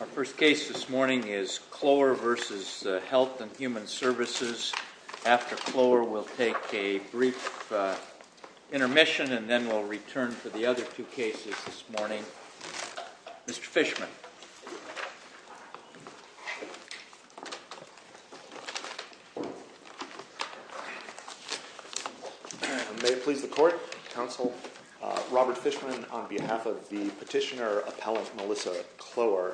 Our first case this morning is CLOER v. Health and Human Services. After CLOER, we'll take a brief intermission and then we'll return to the other two cases this morning. Mr. Fishman. May it please the Court, Counsel, Robert Fishman on behalf of the Petitioner Appellant Melissa CLOER.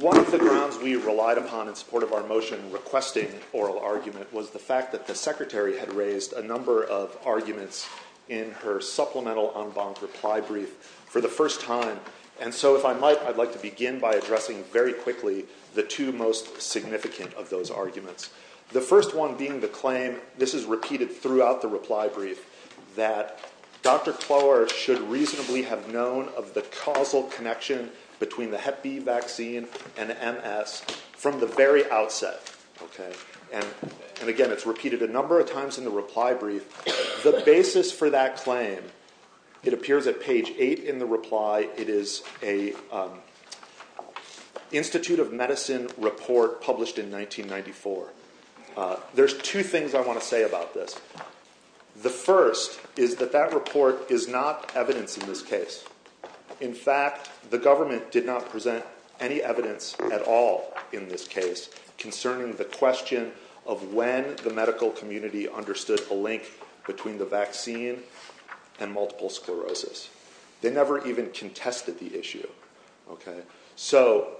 One of the grounds we relied upon in support of our motion requesting oral argument was the fact that the Secretary had raised a number of arguments in her supplemental en banc reply brief for the first time. And so if I might, I'd like to begin by addressing very quickly the two most significant of those arguments. The first one being the claim, this is repeated throughout the reply brief, that Dr. CLOER should reasonably have known of the causal connection between the hep B vaccine and MS from the very outset. And again, it's repeated a number of times in the reply brief. The basis for that claim, it appears at page 8 in the reply, it is a Institute of Medicine report published in 1994. There's two things I want to say about this. The first is that that report is not evidence in this case. In fact, the government did not present any evidence at all in this case concerning the question of when the medical community understood the link between the vaccine and multiple sclerosis. They never even contested the issue. So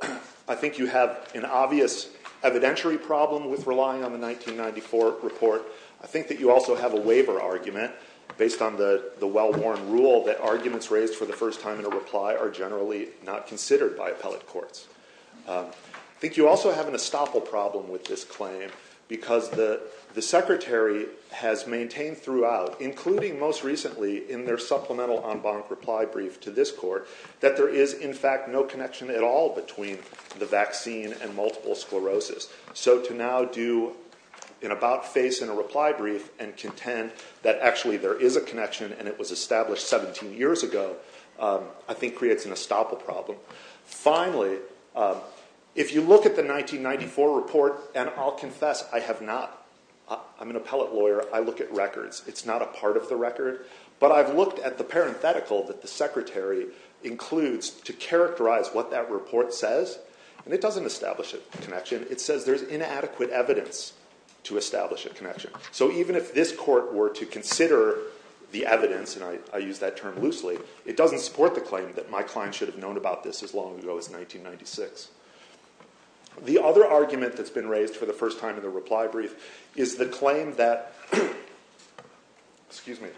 I think you have an obvious evidentiary problem with relying on the 1994 report. I think that you also have a waiver argument based on the well-worn rule that arguments raised for the first time in a reply are generally not considered by appellate courts. I think you also have an estoppel problem with this claim because the secretary has maintained throughout, including most recently in their supplemental en banc reply brief to this court, that there is in fact no connection at all between the vaccine and multiple sclerosis. So to now do an about face in a reply brief and contend that actually there is a connection and it was established 17 years ago, I think creates an estoppel problem. Finally, if you look at the 1994 report, and I'll confess I have not, I'm an appellate lawyer, I look at records. It's not a part of the record. But I've looked at the parenthetical that the secretary includes to characterize what that report says, and it doesn't establish a connection. It says there's inadequate evidence to establish a connection. So even if this court were to consider the evidence, and I use that term loosely, it doesn't support the claim that my client should have known about this as long ago as 1996. The other argument that's been raised for the first time in the reply brief is the claim that, excuse me,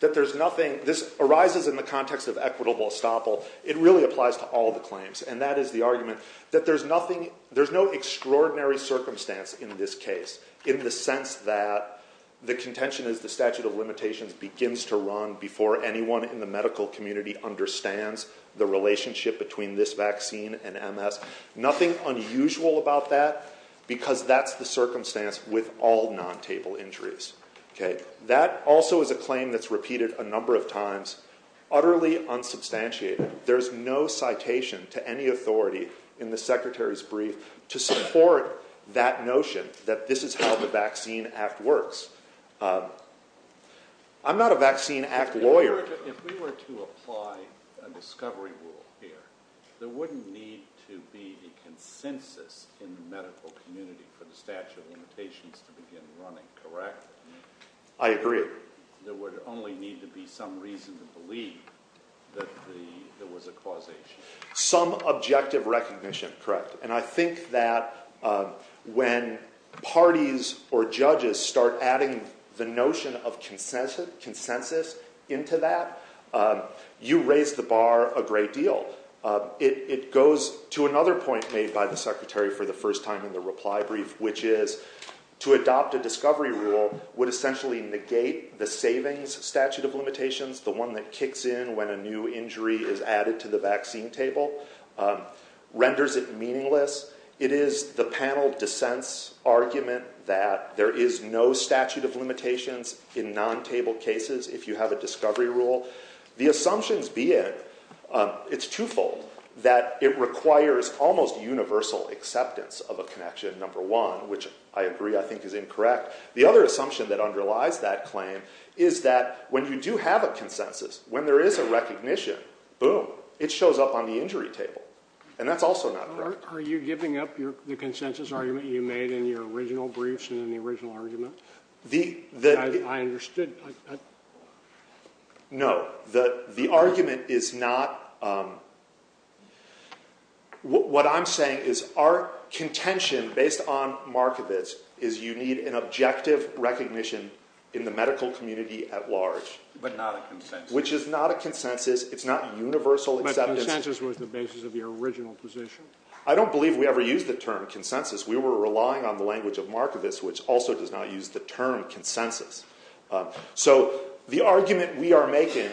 that there's nothing, this arises in the context of equitable estoppel. It really applies to all the claims, and that is the argument that there's nothing, there's no extraordinary circumstance in this case in the sense that the contention is the statute of limitations begins to run before anyone in the medical community understands the relationship between this vaccine and MS. Nothing unusual about that because that's the circumstance with all non-table injuries. That also is a claim that's repeated a number of times, utterly unsubstantiated. There's no citation to any authority in the secretary's brief to support that notion that this is how the Vaccine Act works. I'm not a Vaccine Act lawyer. If we were to apply a discovery rule here, there wouldn't need to be a consensus in the medical community for the statute of limitations to begin running, correct? I agree. There would only need to be some reason to believe that there was a causation. Some objective recognition, correct. And I think that when parties or judges start adding the notion of consensus into that, you raise the bar a great deal. It goes to another point made by the secretary for the first time in the reply brief, which is to adopt a discovery rule would essentially negate the savings statute of limitations, the one that kicks in when a new injury is added to the vaccine table, renders it meaningless. It is the panel dissents argument that there is no statute of limitations in non-table cases if you have a discovery rule. The assumptions be it, it's twofold, that it requires almost universal acceptance of a connection, number one, which I agree I think is incorrect. The other assumption that underlies that claim is that when you do have a consensus, when there is a recognition, boom, it shows up on the injury table. And that's also not correct. Are you giving up the consensus argument you made in your original briefs and in the original argument? I understood. No. The argument is not what I'm saying is our contention based on Markovits is you need an objective recognition in the medical community at large. But not a consensus. Which is not a consensus. It's not universal acceptance. But consensus was the basis of your original position. I don't believe we ever used the term consensus. We were relying on the language of Markovits, which also does not use the term consensus. So the argument we are making,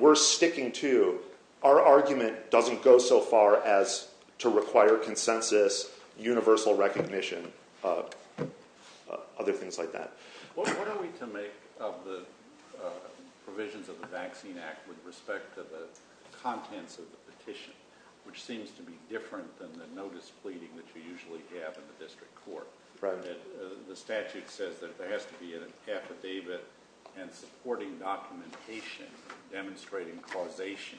we're sticking to, our argument doesn't go so far as to require consensus, universal recognition, other things like that. What are we to make of the provisions of the Vaccine Act with respect to the contents of the petition, which seems to be different than the notice pleading that you usually have in the district court? The statute says that there has to be an affidavit and supporting documentation demonstrating causation.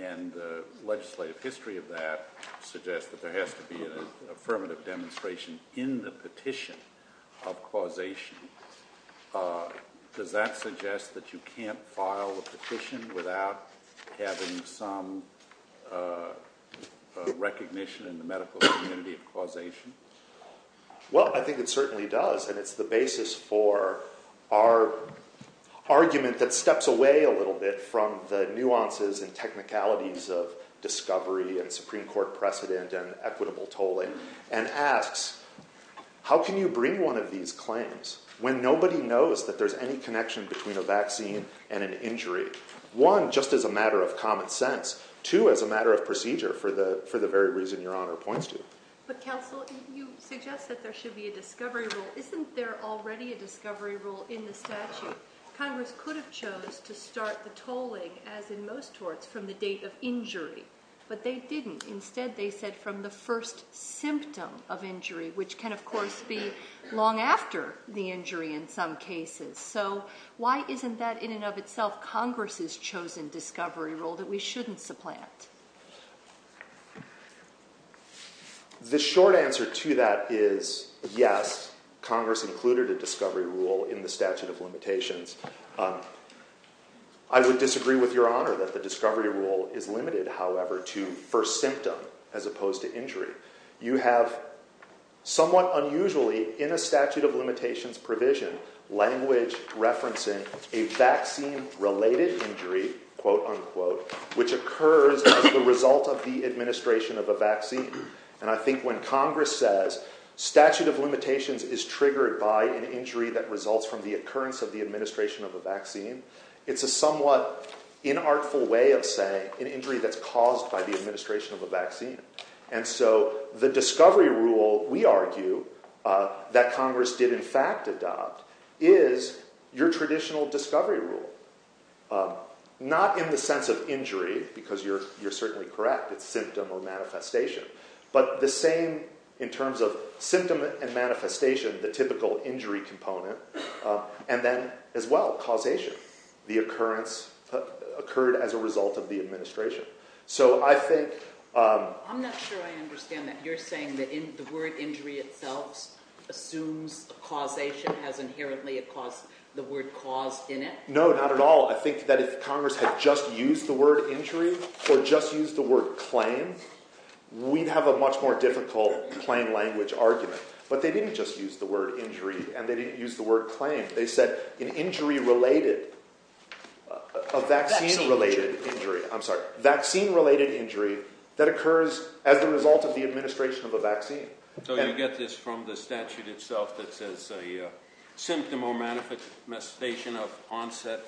And the legislative history of that suggests that there has to be an affirmative demonstration in the petition of causation. Does that suggest that you can't file a petition without having some recognition in the medical community of causation? Well, I think it certainly does. And it's the basis for our argument that steps away a little bit from the nuances and technicalities of discovery and Supreme Court precedent and equitable tolling. And asks, how can you bring one of these claims when nobody knows that there's any connection between a vaccine and an injury? One, just as a matter of common sense. Two, as a matter of procedure for the very reason Your Honor points to. But counsel, you suggest that there should be a discovery rule. Isn't there already a discovery rule in the statute? Congress could have chose to start the tolling, as in most courts, from the date of injury. But they didn't. Instead, they said from the first symptom of injury, which can, of course, be long after the injury in some cases. So why isn't that, in and of itself, Congress's chosen discovery rule that we shouldn't supplant? The short answer to that is yes, Congress included a discovery rule in the statute of limitations. I would disagree with Your Honor that the discovery rule is limited, however, to first symptom as opposed to injury. You have, somewhat unusually, in a statute of limitations provision, language referencing a vaccine-related injury, quote, unquote, which occurs as the result of the administration of a vaccine. And I think when Congress says statute of limitations is triggered by an injury that results from the occurrence of the administration of a vaccine, it's a somewhat inartful way of saying an injury that's caused by the administration of a vaccine. And so the discovery rule, we argue, that Congress did, in fact, adopt is your traditional discovery rule. Not in the sense of injury, because you're certainly correct, it's symptom or manifestation. But the same in terms of symptom and manifestation, the typical injury component. And then, as well, causation. The occurrence occurred as a result of the administration. I'm not sure I understand that. You're saying that the word injury itself assumes causation, has inherently the word caused in it? No, not at all. I think that if Congress had just used the word injury or just used the word claim, we'd have a much more difficult plain language argument. But they didn't just use the word injury and they didn't use the word claim. They said an injury-related, a vaccine-related injury. I'm sorry, vaccine-related injury that occurs as a result of the administration of a vaccine. So you get this from the statute itself that says a symptom or manifestation of onset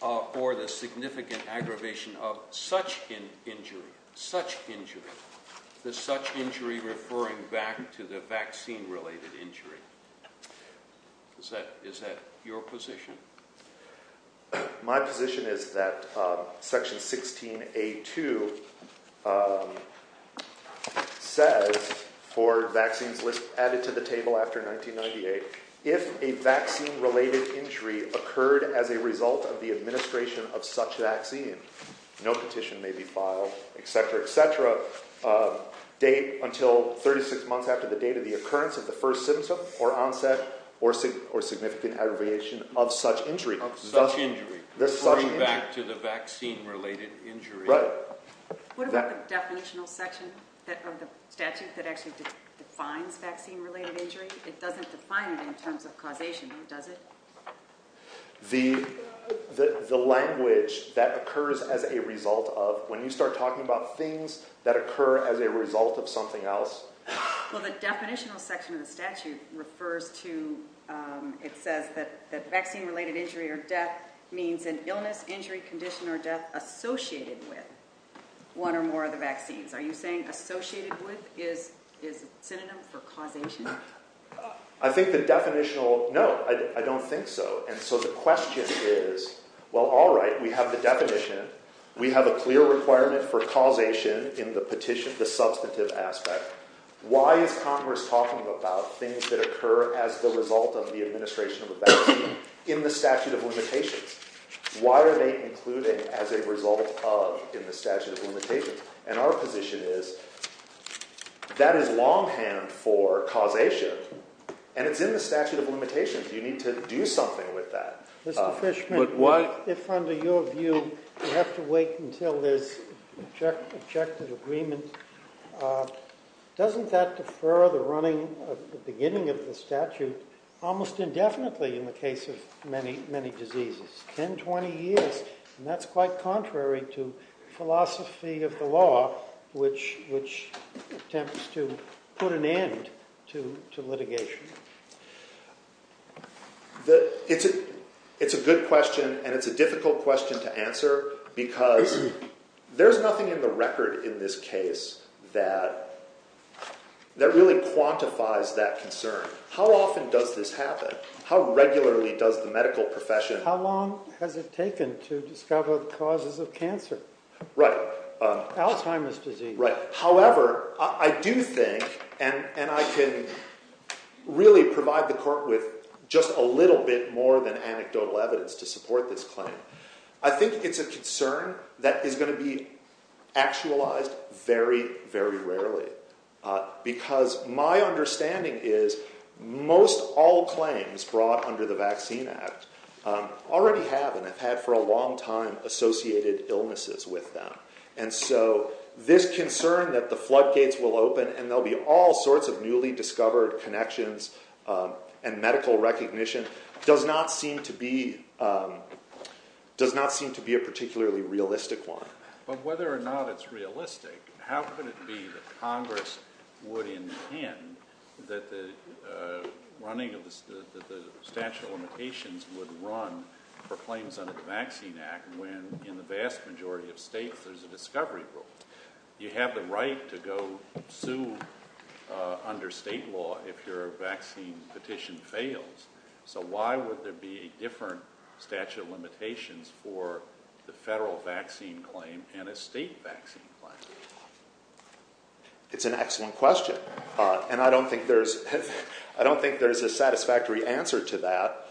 or the significant aggravation of such an injury, such injury. The such injury referring back to the vaccine-related injury. Is that your position? My position is that Section 16A.2 says, for vaccines added to the table after 1998, if a vaccine-related injury occurred as a result of the administration of such vaccine, no petition may be filed, etc., etc., until 36 months after the date of the occurrence of the first symptom or onset or significant aggravation of such injury. Of such injury. The such injury. Referring back to the vaccine-related injury. Right. What about the definitional section of the statute that actually defines vaccine-related injury? It doesn't define it in terms of causation, does it? The language that occurs as a result of, when you start talking about things that occur as a result of something else. Well, the definitional section of the statute refers to, it says that vaccine-related injury or death means an illness, injury, condition, or death associated with one or more of the vaccines. Are you saying associated with is a synonym for causation? I think the definitional, no, I don't think so. And so the question is, well, all right, we have the definition. We have a clear requirement for causation in the petition, the substantive aspect. Why is Congress talking about things that occur as the result of the administration of a vaccine in the statute of limitations? Why are they included as a result of in the statute of limitations? And our position is that is longhand for causation, and it's in the statute of limitations. You need to do something with that. Mr. Fishman, if under your view you have to wait until there's objective agreement, doesn't that defer the beginning of the statute almost indefinitely in the case of many, many diseases? 10, 20 years, and that's quite contrary to philosophy of the law, which attempts to put an end to litigation. It's a good question, and it's a difficult question to answer because there's nothing in the record in this case that really quantifies that concern. How often does this happen? How regularly does the medical profession… But how long has it taken to discover the causes of cancer? Right. Alzheimer's disease. Right. However, I do think, and I can really provide the court with just a little bit more than anecdotal evidence to support this claim, I think it's a concern that is going to be actualized very, very rarely. Because my understanding is most all claims brought under the Vaccine Act already have and have had for a long time associated illnesses with them. And so this concern that the floodgates will open and there'll be all sorts of newly discovered connections and medical recognition does not seem to be a particularly realistic one. But whether or not it's realistic, how could it be that Congress would intend that the running of the statute of limitations would run for claims under the Vaccine Act when in the vast majority of states there's a discovery rule? You have the right to go sue under state law if your vaccine petition fails. So why would there be a different statute of limitations for the federal vaccine claim and a state vaccine claim? It's an excellent question. And I don't think there's a satisfactory answer to that.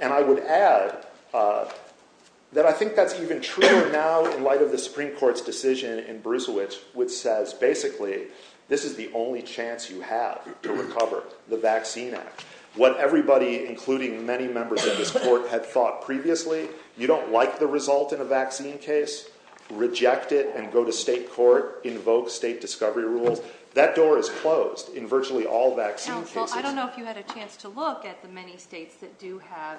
And I would add that I think that's even truer now in light of the Supreme Court's decision in Brucewitz, which says basically this is the only chance you have to recover the Vaccine Act. What everybody, including many members of this court, had thought previously, you don't like the result in a vaccine case, reject it and go to state court, invoke state discovery rules. That door is closed in virtually all vaccine cases. Well, I don't know if you had a chance to look at the many states that do have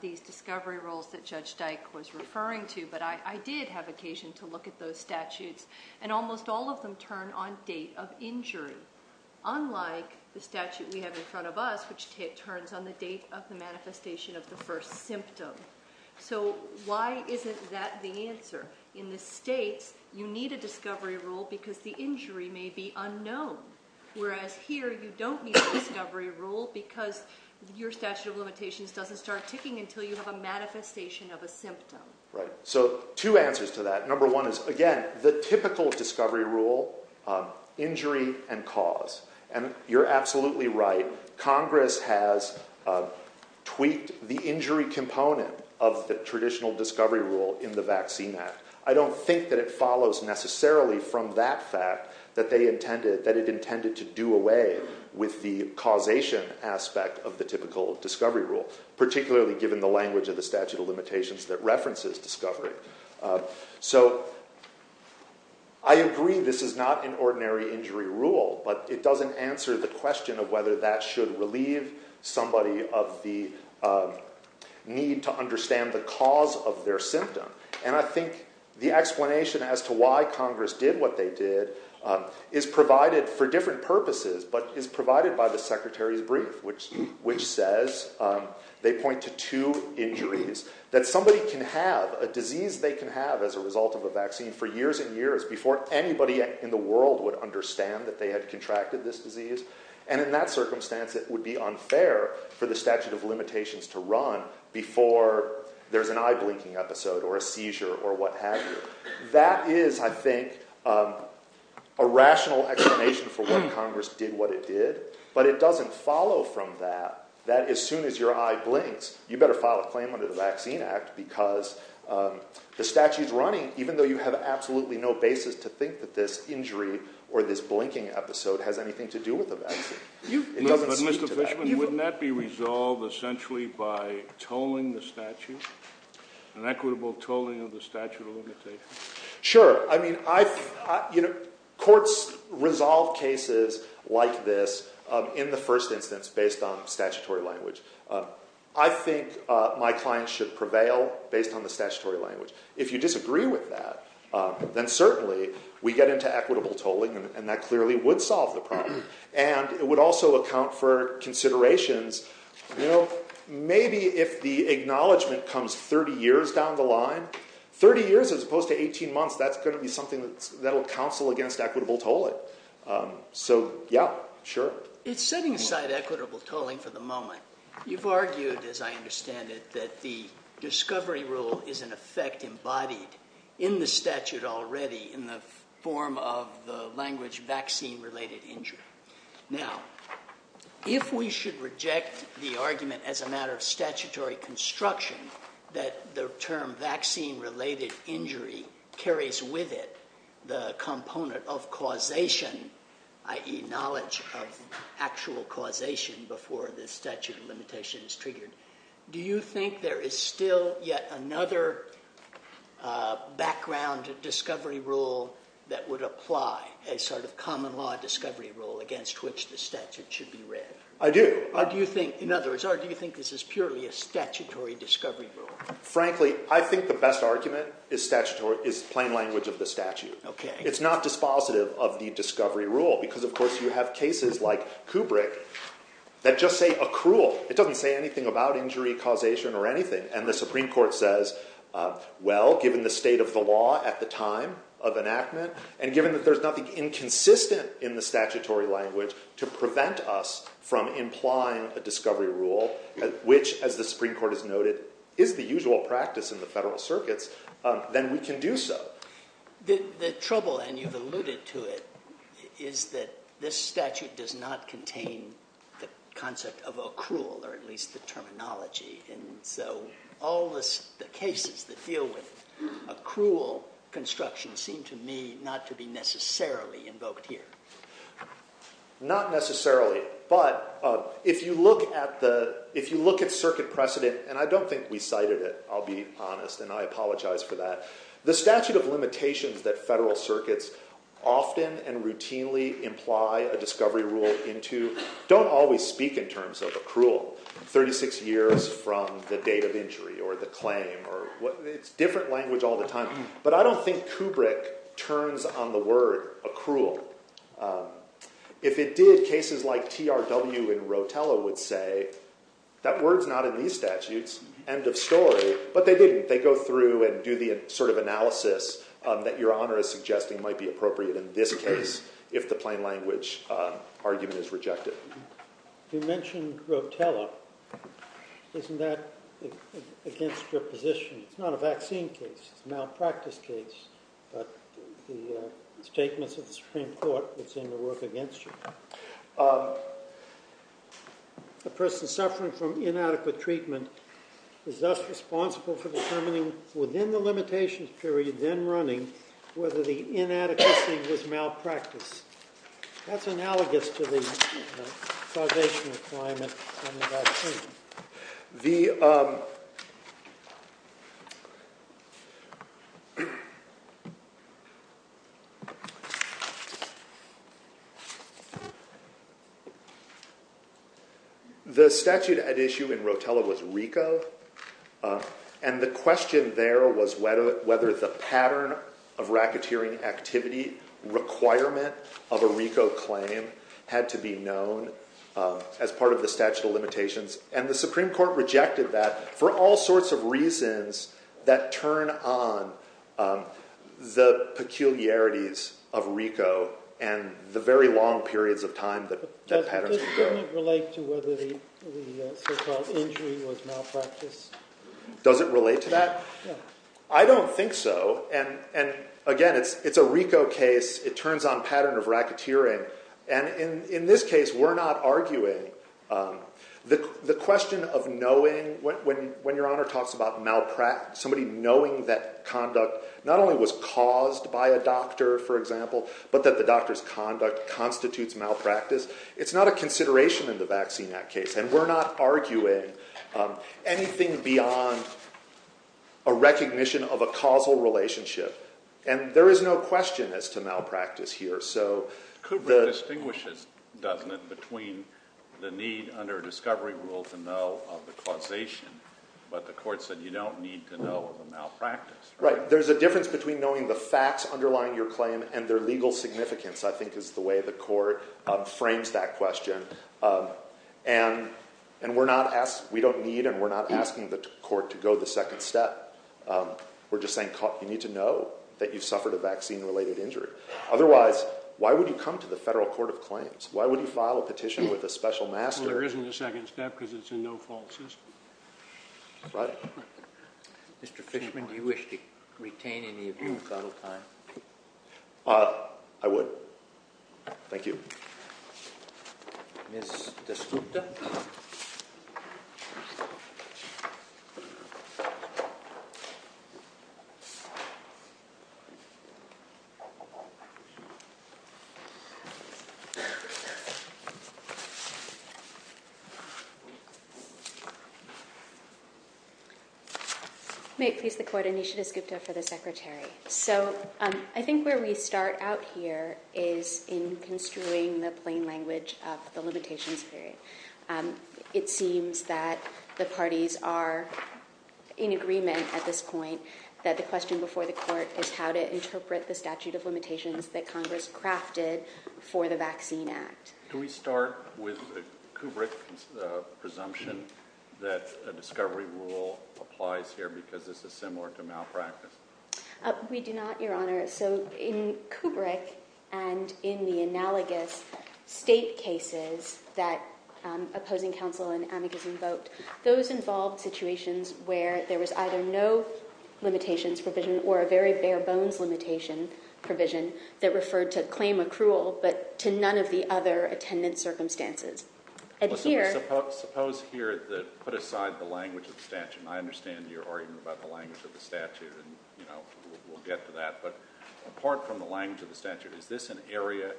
these discovery rules that Judge Dyke was referring to. But I did have occasion to look at those statutes. And almost all of them turn on date of injury, unlike the statute we have in front of us, which turns on the date of the manifestation of the first symptom. In the states, you need a discovery rule because the injury may be unknown. Whereas here you don't need a discovery rule because your statute of limitations doesn't start ticking until you have a manifestation of a symptom. Right. So two answers to that. Number one is, again, the typical discovery rule, injury and cause. And you're absolutely right. Congress has tweaked the injury component of the traditional discovery rule in the Vaccine Act. I don't think that it follows necessarily from that fact that they intended that it intended to do away with the causation aspect of the typical discovery rule, particularly given the language of the statute of limitations that references discovery. So I agree this is not an ordinary injury rule, but it doesn't answer the question of whether that should relieve somebody of the need to understand the cause of their symptom. And I think the explanation as to why Congress did what they did is provided for different purposes, but is provided by the Secretary's brief, which says they point to two injuries that somebody can have a disease they can have as a result of a vaccine for years and years before anybody in the world would understand that they had contracted this disease. And in that circumstance, it would be unfair for the statute of limitations to run before there's an eye blinking episode or a seizure or what have you. That is, I think, a rational explanation for why Congress did what it did, but it doesn't follow from that. That as soon as your eye blinks, you better file a claim under the Vaccine Act because the statute is running, even though you have absolutely no basis to think that this injury or this blinking episode has anything to do with the vaccine. It doesn't speak to that. But Mr. Fishman, wouldn't that be resolved essentially by tolling the statute, an equitable tolling of the statute of limitations? Sure. I mean, courts resolve cases like this in the first instance based on statutory language. I think my clients should prevail based on the statutory language. If you disagree with that, then certainly we get into equitable tolling and that clearly would solve the problem. And it would also account for considerations. You know, maybe if the acknowledgment comes 30 years down the line, 30 years as opposed to 18 months, that's going to be something that will counsel against equitable tolling. So, yeah, sure. It's setting aside equitable tolling for the moment. You've argued, as I understand it, that the discovery rule is in effect embodied in the statute already in the form of the language vaccine-related injury. Now, if we should reject the argument as a matter of statutory construction that the term vaccine-related injury carries with it the component of causation, i.e. knowledge of actual causation before the statute of limitation is triggered, do you think there is still yet another background discovery rule that would apply, a sort of common law discovery rule against which the statute should be read? I do. Or do you think this is purely a statutory discovery rule? Frankly, I think the best argument is plain language of the statute. Okay. It's not dispositive of the discovery rule because, of course, you have cases like Kubrick that just say accrual. It doesn't say anything about injury, causation, or anything. And the Supreme Court says, well, given the state of the law at the time of enactment, and given that there's nothing inconsistent in the statutory language to prevent us from implying a discovery rule, which, as the Supreme Court has noted, is the usual practice in the federal circuits, then we can do so. The trouble, and you've alluded to it, is that this statute does not contain the concept of accrual, or at least the terminology. And so all the cases that deal with accrual construction seem to me not to be necessarily invoked here. Not necessarily. But if you look at circuit precedent, and I don't think we cited it, I'll be honest, and I apologize for that. The statute of limitations that federal circuits often and routinely imply a discovery rule into don't always speak in terms of accrual. 36 years from the date of injury, or the claim. It's different language all the time. But I don't think Kubrick turns on the word accrual. If it did, cases like TRW and Rotella would say, that word's not in these statutes. End of story. But they didn't. They didn't go through and do the sort of analysis that Your Honor is suggesting might be appropriate in this case, if the plain language argument is rejected. You mentioned Rotella. Isn't that against your position? It's not a vaccine case. It's a malpractice case. But the statements of the Supreme Court would seem to work against you. A person suffering from inadequate treatment is thus responsible for determining within the limitations period then running whether the inadequacy was malpractice. That's analogous to the causation requirement on the vaccine. The statute at issue in Rotella was RICO, and the question there was whether the pattern of racketeering activity requirement of a RICO claim had to be known as part of the statute of limitations. And the Supreme Court rejected that for all sorts of reasons that turn on the peculiarities of RICO and the very long periods of time that patterns would go. Doesn't it relate to whether the so-called injury was malpractice? Does it relate to that? I don't think so. And again, it's a RICO case. It turns on pattern of racketeering. And in this case, we're not arguing the question of knowing when your Honor talks about malpractice, somebody knowing that conduct not only was caused by a doctor, for example, but that the doctor's conduct constitutes malpractice. It's not a consideration in the Vaccine Act case, and we're not arguing anything beyond a recognition of a causal relationship. And there is no question as to malpractice here. Kubrick distinguishes, doesn't it, between the need under a discovery rule to know of the causation, but the court said you don't need to know of a malpractice. Right. There's a difference between knowing the facts underlying your claim and their legal significance, I think, is the way the court frames that question. And we don't need and we're not asking the court to go the second step. We're just saying you need to know that you've suffered a vaccine-related injury. Otherwise, why would you come to the Federal Court of Claims? Why would you file a petition with a special master? Well, there isn't a second step because it's a no-fault system. Right. Mr. Fishman, do you wish to retain any of your cuddle time? I would. Thank you. Ms. DeScutta? May it please the Court, Anisha DeScutta for the Secretary. So I think where we start out here is in construing the plain language of the limitations period. It seems that the parties are in agreement at this point that the question before the court is how to interpret the statute of limitations that Congress crafted for the Vaccine Act. Do we start with the Kubrick presumption that a discovery rule applies here because this is similar to malpractice? We do not, Your Honor. So in Kubrick and in the analogous state cases that opposing counsel and amicus invoked, those involved situations where there was either no limitations provision or a very bare-bones limitation provision that referred to claim accrual but to none of the other attendant circumstances. Suppose here that, put aside the language of the statute, and I understand your argument about the language of the statute and we'll get to that. But apart from the language of the statute, is this an area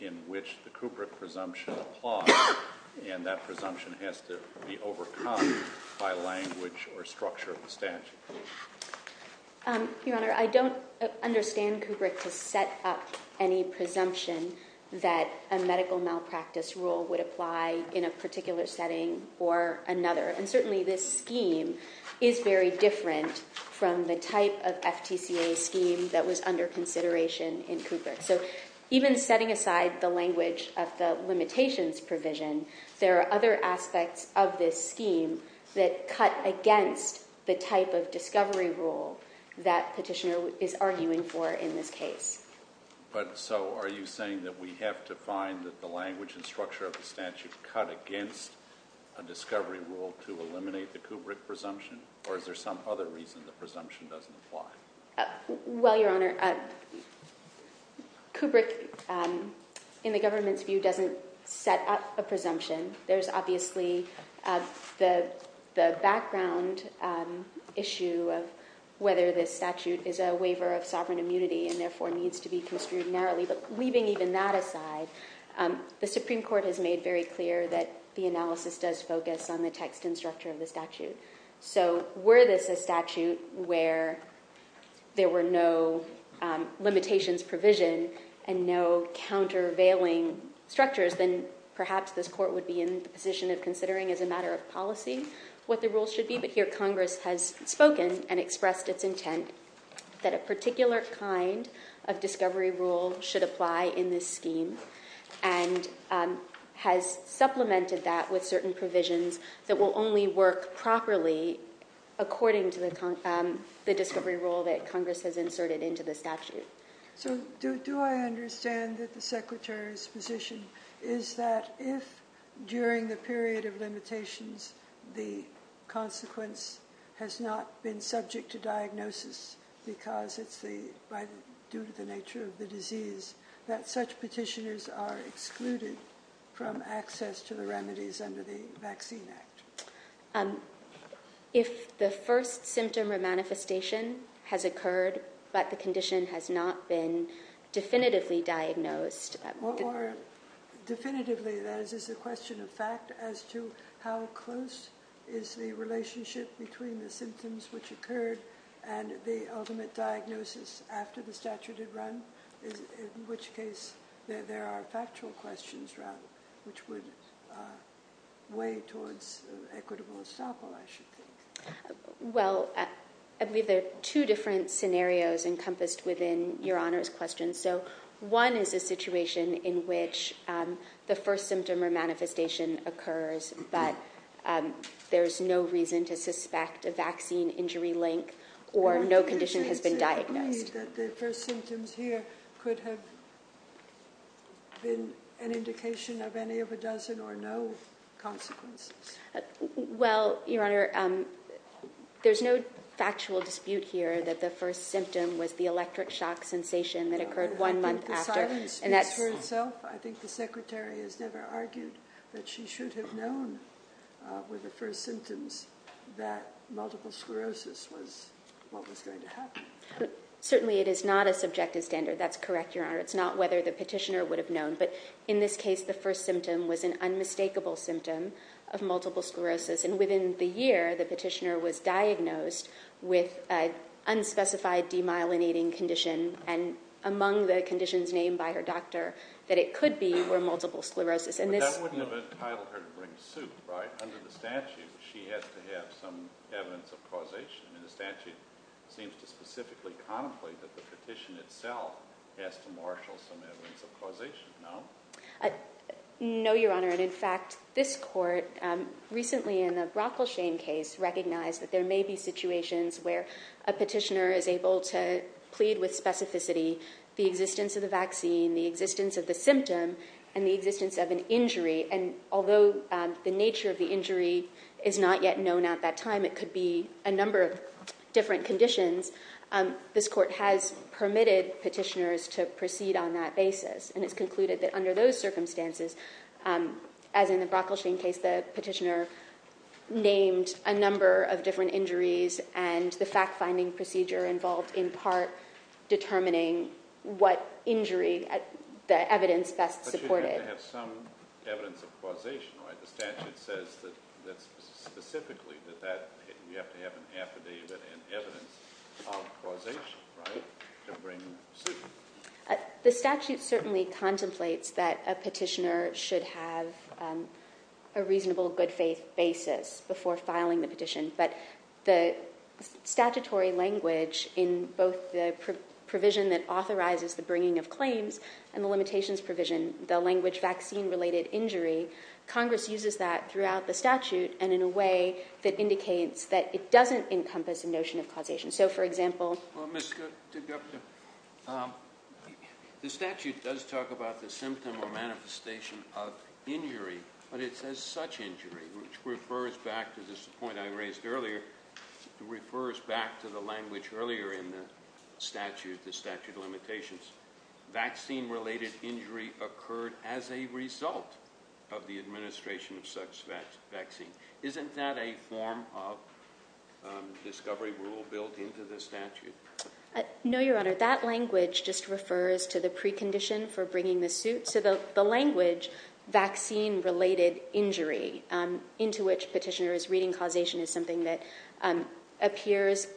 in which the Kubrick presumption applies and that presumption has to be overcome by language or structure of the statute? Your Honor, I don't understand Kubrick to set up any presumption that a medical malpractice rule would apply in a particular setting or another. And certainly this scheme is very different from the type of FTCA scheme that was under consideration in Kubrick. So even setting aside the language of the limitations provision, there are other aspects of this scheme that cut against the type of discovery rule that petitioner is arguing for in this case. But so are you saying that we have to find that the language and structure of the statute cut against a discovery rule to eliminate the Kubrick presumption? Or is there some other reason the presumption doesn't apply? Well, Your Honor, Kubrick, in the government's view, doesn't set up a presumption. There's obviously the background issue of whether this statute is a waiver of sovereign immunity and therefore needs to be construed narrowly. But leaving even that aside, the Supreme Court has made very clear that the analysis does focus on the text and structure of the statute. So were this a statute where there were no limitations provision and no countervailing structures, then perhaps this court would be in the position of considering as a matter of policy what the rules should be. But here Congress has spoken and expressed its intent that a particular kind of discovery rule should apply in this scheme and has supplemented that with certain provisions that will only work properly according to the discovery rule that Congress has inserted into the statute. So do I understand that the Secretary's position is that if, during the period of limitations, the consequence has not been subject to diagnosis because it's due to the nature of the disease, that such petitioners are excluded from access to the remedies under the Vaccine Act? If the first symptom or manifestation has occurred but the condition has not been definitively diagnosed... More definitively, that is, is a question of fact as to how close is the relationship between the symptoms which occurred and the ultimate diagnosis after the statute had run, in which case there are factual questions, rather, which would weigh towards equitable estoppel, I should think. Well, I believe there are two different scenarios encompassed within Your Honor's question. So one is a situation in which the first symptom or manifestation occurs, but there's no reason to suspect a vaccine injury link or no condition has been diagnosed. Could it be that the first symptoms here could have been an indication of any of a dozen or no consequences? Well, Your Honor, there's no factual dispute here that the first symptom was the electric shock sensation that occurred one month after. I think the silence speaks for itself. I think the Secretary has never argued that she should have known with the first symptoms that multiple sclerosis was what was going to happen. Certainly it is not a subjective standard. That's correct, Your Honor. It's not whether the petitioner would have known. But in this case, the first symptom was an unmistakable symptom of multiple sclerosis. And within the year, the petitioner was diagnosed with an unspecified demyelinating condition, and among the conditions named by her doctor that it could be were multiple sclerosis. But that wouldn't have entitled her to bring suit, right? Under the statute, she has to have some evidence of causation. And the statute seems to specifically contemplate that the petition itself has to marshal some evidence of causation, no? No, Your Honor. And in fact, this court recently in the Brockleshane case recognized that there may be situations where a petitioner is able to plead with specificity the existence of the vaccine, the existence of the symptom, and the existence of an injury. And although the nature of the injury is not yet known at that time, it could be a number of different conditions, this court has permitted petitioners to proceed on that basis. And it's concluded that under those circumstances, as in the Brockleshane case, the petitioner named a number of different injuries, and the fact-finding procedure involved in part determining what injury the evidence best supported. But you have to have some evidence of causation, right? The statute says specifically that you have to have an affidavit and evidence of causation, right, to bring suit. The statute certainly contemplates that a petitioner should have a reasonable good faith basis before filing the petition. But the statutory language in both the provision that authorizes the bringing of claims and the limitations provision, the language vaccine-related injury, Congress uses that throughout the statute and in a way that indicates that it doesn't encompass a notion of causation. So, for example... Well, Ms. Degupta, the statute does talk about the symptom or manifestation of injury, but it says such injury, which refers back to this point I raised earlier. It refers back to the language earlier in the statute, the statute of limitations. Vaccine-related injury occurred as a result of the administration of such vaccine. Isn't that a form of discovery rule built into the statute? No, Your Honor, that language just refers to the precondition for bringing the suit. So the language vaccine-related injury, into which petitioner is reading causation, is something that appears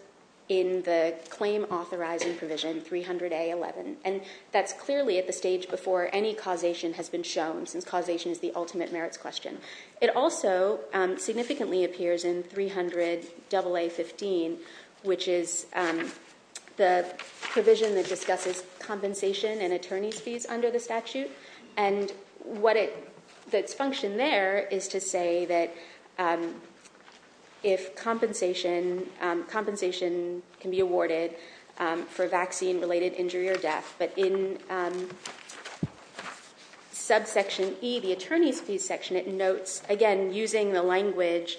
in the claim authorizing provision, 300A11, and that's clearly at the stage before any causation has been shown since causation is the ultimate merits question. It also significantly appears in 300AA15, which is the provision that discusses compensation and attorney's fees under the statute. And what's functioned there is to say that if compensation can be awarded for vaccine-related injury or death, but in subsection E, the attorney's fees section, it notes, again, using the language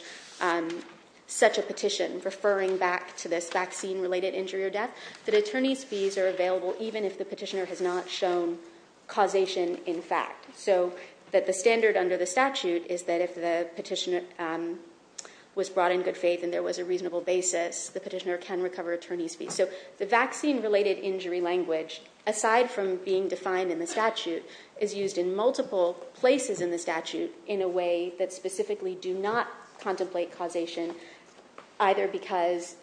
such a petition, referring back to this vaccine-related injury or death, that attorney's fees are available even if the petitioner has not shown causation in fact. So that the standard under the statute is that if the petitioner was brought in good faith and there was a reasonable basis, the petitioner can recover attorney's fees. So the vaccine-related injury language, aside from being defined in the statute, is used in multiple places in the statute in a way that specifically do not contemplate causation, either because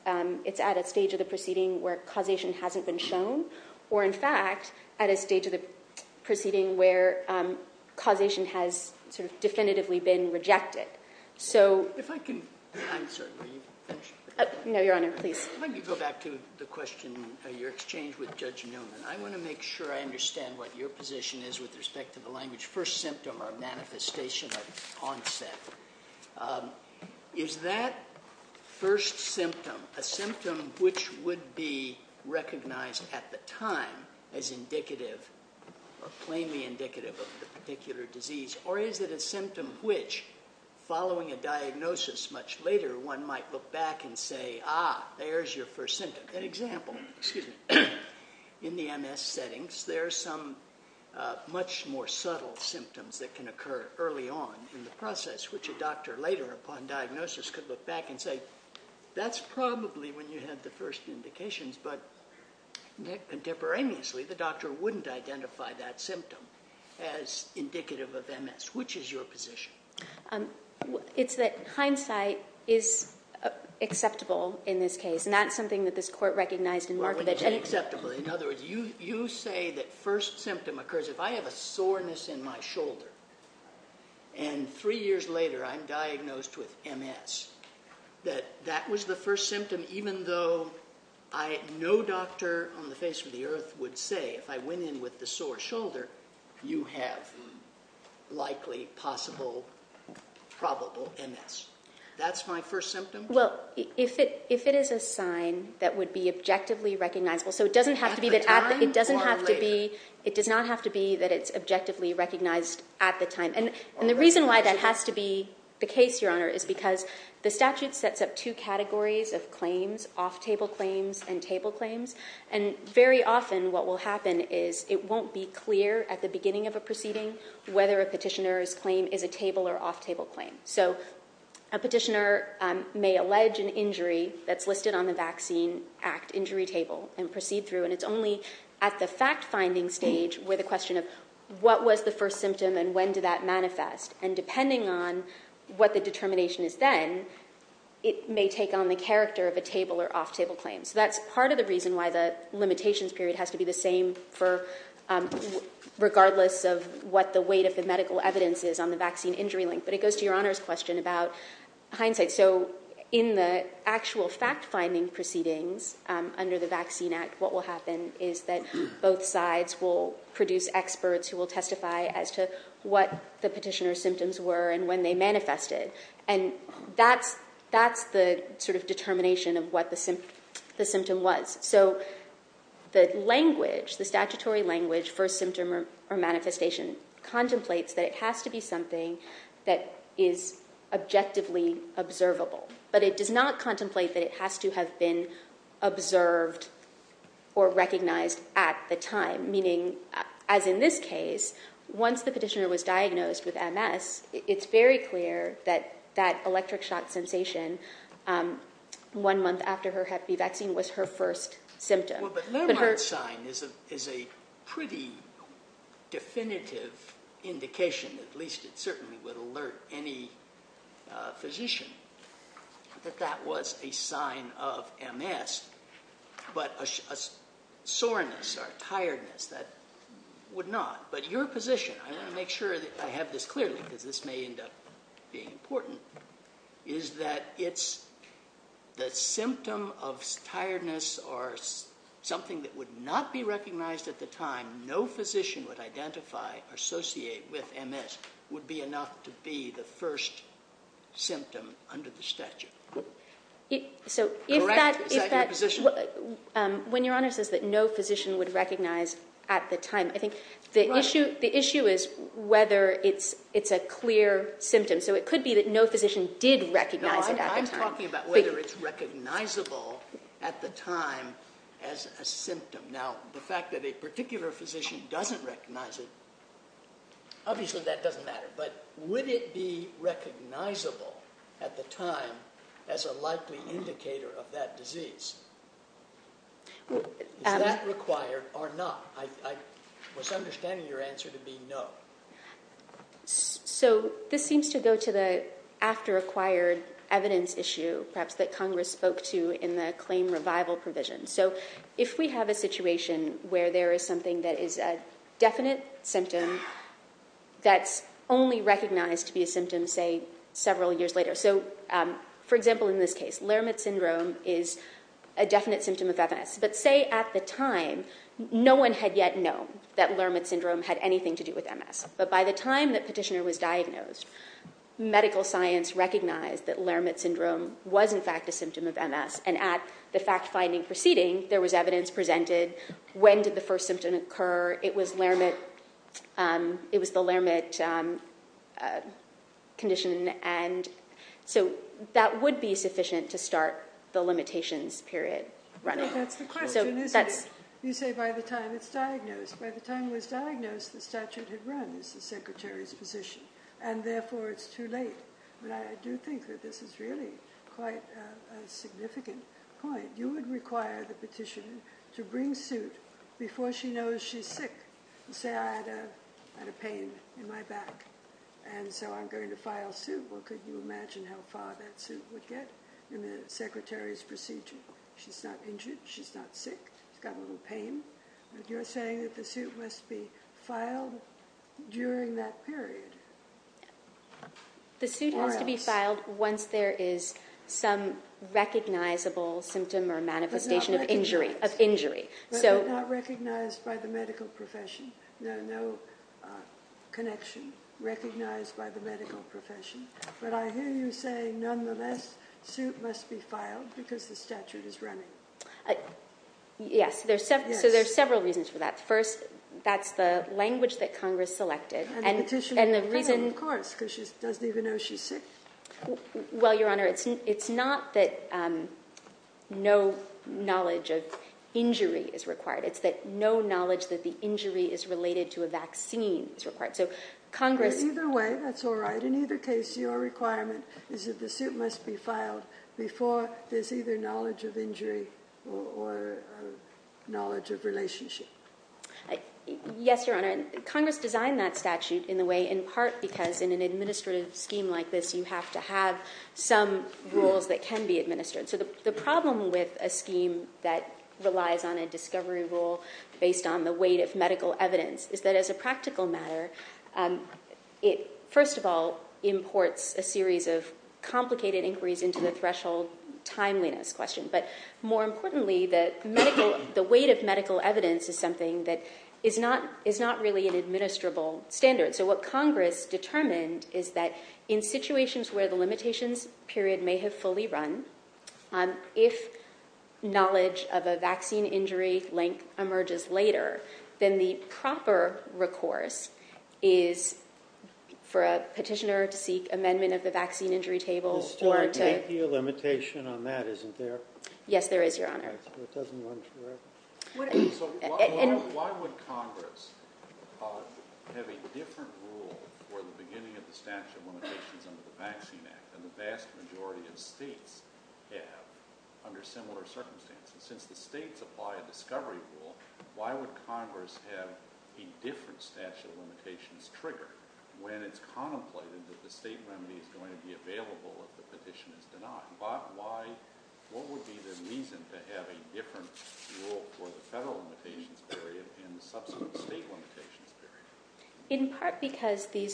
it's at a stage of the proceeding where causation hasn't been shown, or, in fact, at a stage of the proceeding where causation has sort of definitively been rejected. So... If I can... I'm sorry, will you finish? No, Your Honor, please. Let me go back to the question of your exchange with Judge Newman. I want to make sure I understand what your position is with respect to the language first symptom or manifestation of onset. Is that first symptom a symptom which would be recognized at the time as indicative or plainly indicative of the particular disease, or is it a symptom which, following a diagnosis much later, one might look back and say, ah, there's your first symptom? An example, in the MS settings, there are some much more subtle symptoms that can occur early on in the process, which a doctor later upon diagnosis could look back and say, that's probably when you had the first indications, but contemporaneously the doctor wouldn't identify that symptom as indicative of MS. Which is your position? It's that hindsight is acceptable in this case, not something that this Court recognized in Markovitch. Well, it's unacceptable. In other words, you say that first symptom occurs if I have a soreness in my shoulder, and three years later I'm diagnosed with MS, that that was the first symptom even though no doctor on the face of the earth would say, if I went in with the sore shoulder, you have likely, possible, probable MS. That's my first symptom? Well, if it is a sign that would be objectively recognizable, so it doesn't have to be that it's objectively recognized at the time. And the reason why that has to be the case, Your Honor, is because the statute sets up two categories of claims, off-table claims and table claims, and very often what will happen is it won't be clear at the beginning of a proceeding whether a petitioner's claim is a table or off-table claim. So a petitioner may allege an injury that's listed on the Vaccine Act injury table and proceed through, and it's only at the fact-finding stage where the question of what was the first symptom and when did that manifest, and depending on what the determination is then, it may take on the character of a table or off-table claim. So that's part of the reason why the limitations period has to be the same regardless of what the weight of the medical evidence is on the vaccine injury link. But it goes to Your Honor's question about hindsight. So in the actual fact-finding proceedings under the Vaccine Act, what will happen is that both sides will produce experts who will testify as to what the petitioner's symptoms were and when they manifested, and that's the sort of determination of what the symptom was. So the language, the statutory language for symptom or manifestation contemplates that it has to be something that is objectively observable, but it does not contemplate that it has to have been observed or recognized at the time, meaning as in this case, once the petitioner was diagnosed with MS, it's very clear that that electric shock sensation one month after her hep B vaccine was her first symptom. Well, but Lermont's sign is a pretty definitive indication, at least it certainly would alert any physician, that that was a sign of MS, but a soreness or tiredness that would not. But your position, I want to make sure that I have this clearly, because this may end up being important, is that the symptom of tiredness or something that would not be recognized at the time no physician would identify or associate with MS would be enough to be the first symptom under the statute. Correct? Is that your position? When Your Honor says that no physician would recognize at the time, I think the issue is whether it's a clear symptom. So it could be that no physician did recognize it at the time. No, I'm talking about whether it's recognizable at the time as a symptom. Now, the fact that a particular physician doesn't recognize it, obviously that doesn't matter, but would it be recognizable at the time as a likely indicator of that disease? Is that required or not? I was understanding your answer to be no. So this seems to go to the after-acquired evidence issue, perhaps that Congress spoke to in the claim revival provision. So if we have a situation where there is something that is a definite symptom that's only recognized to be a symptom, say, several years later. So, for example, in this case, Lermit syndrome is a definite symptom of MS. But say at the time no one had yet known that Lermit syndrome had anything to do with MS. But by the time that Petitioner was diagnosed, medical science recognized that Lermit syndrome was in fact a symptom of MS. And at the fact-finding proceeding, there was evidence presented. When did the first symptom occur? It was Lermit. It was the Lermit condition. And so that would be sufficient to start the limitations period running. I think that's the question, isn't it? You say by the time it's diagnosed. By the time it was diagnosed, the statute had run as the Secretary's position, and therefore it's too late. But I do think that this is really quite a significant point. You would require the Petitioner to bring suit before she knows she's sick. Say I had a pain in my back, and so I'm going to file suit. Well, could you imagine how far that suit would get in the Secretary's procedure? She's not injured, she's not sick, she's got a little pain. But you're saying that the suit must be filed during that period. The suit has to be filed once there is some recognizable symptom or manifestation of injury. But not recognized by the medical profession. No connection recognized by the medical profession. But I hear you saying, nonetheless, suit must be filed because the statute is running. Yes. So there are several reasons for that. First, that's the language that Congress selected. And the Petitioner, of course, because she doesn't even know she's sick. Well, Your Honor, it's not that no knowledge of injury is required. It's that no knowledge that the injury is related to a vaccine is required. Either way, that's all right. In either case, your requirement is that the suit must be filed before there's either knowledge of injury or knowledge of relationship. Yes, Your Honor. Congress designed that statute in the way, in part because in an administrative scheme like this, you have to have some rules that can be administered. So the problem with a scheme that relies on a discovery rule based on the weight of medical evidence is that, as a practical matter, it, first of all, imports a series of complicated inquiries into the threshold timeliness question. But more importantly, the weight of medical evidence is something that is not really an administrable standard. So what Congress determined is that, in situations where the limitations period may have fully run, if knowledge of a vaccine injury link emerges later, then the proper recourse is for a Petitioner to seek amendment of the vaccine injury table or to... Yes, there is, Your Honor. So why would Congress have a different rule for the beginning of the statute of limitations under the Vaccine Act than the vast majority of states have under similar circumstances? Since the states apply a discovery rule, why would Congress have a different statute of limitations triggered when it's contemplated that the state remedy is going to be available if the petition is denied? What would be the reason to have a different rule for the federal limitations period and the subsequent state limitations period? In part because this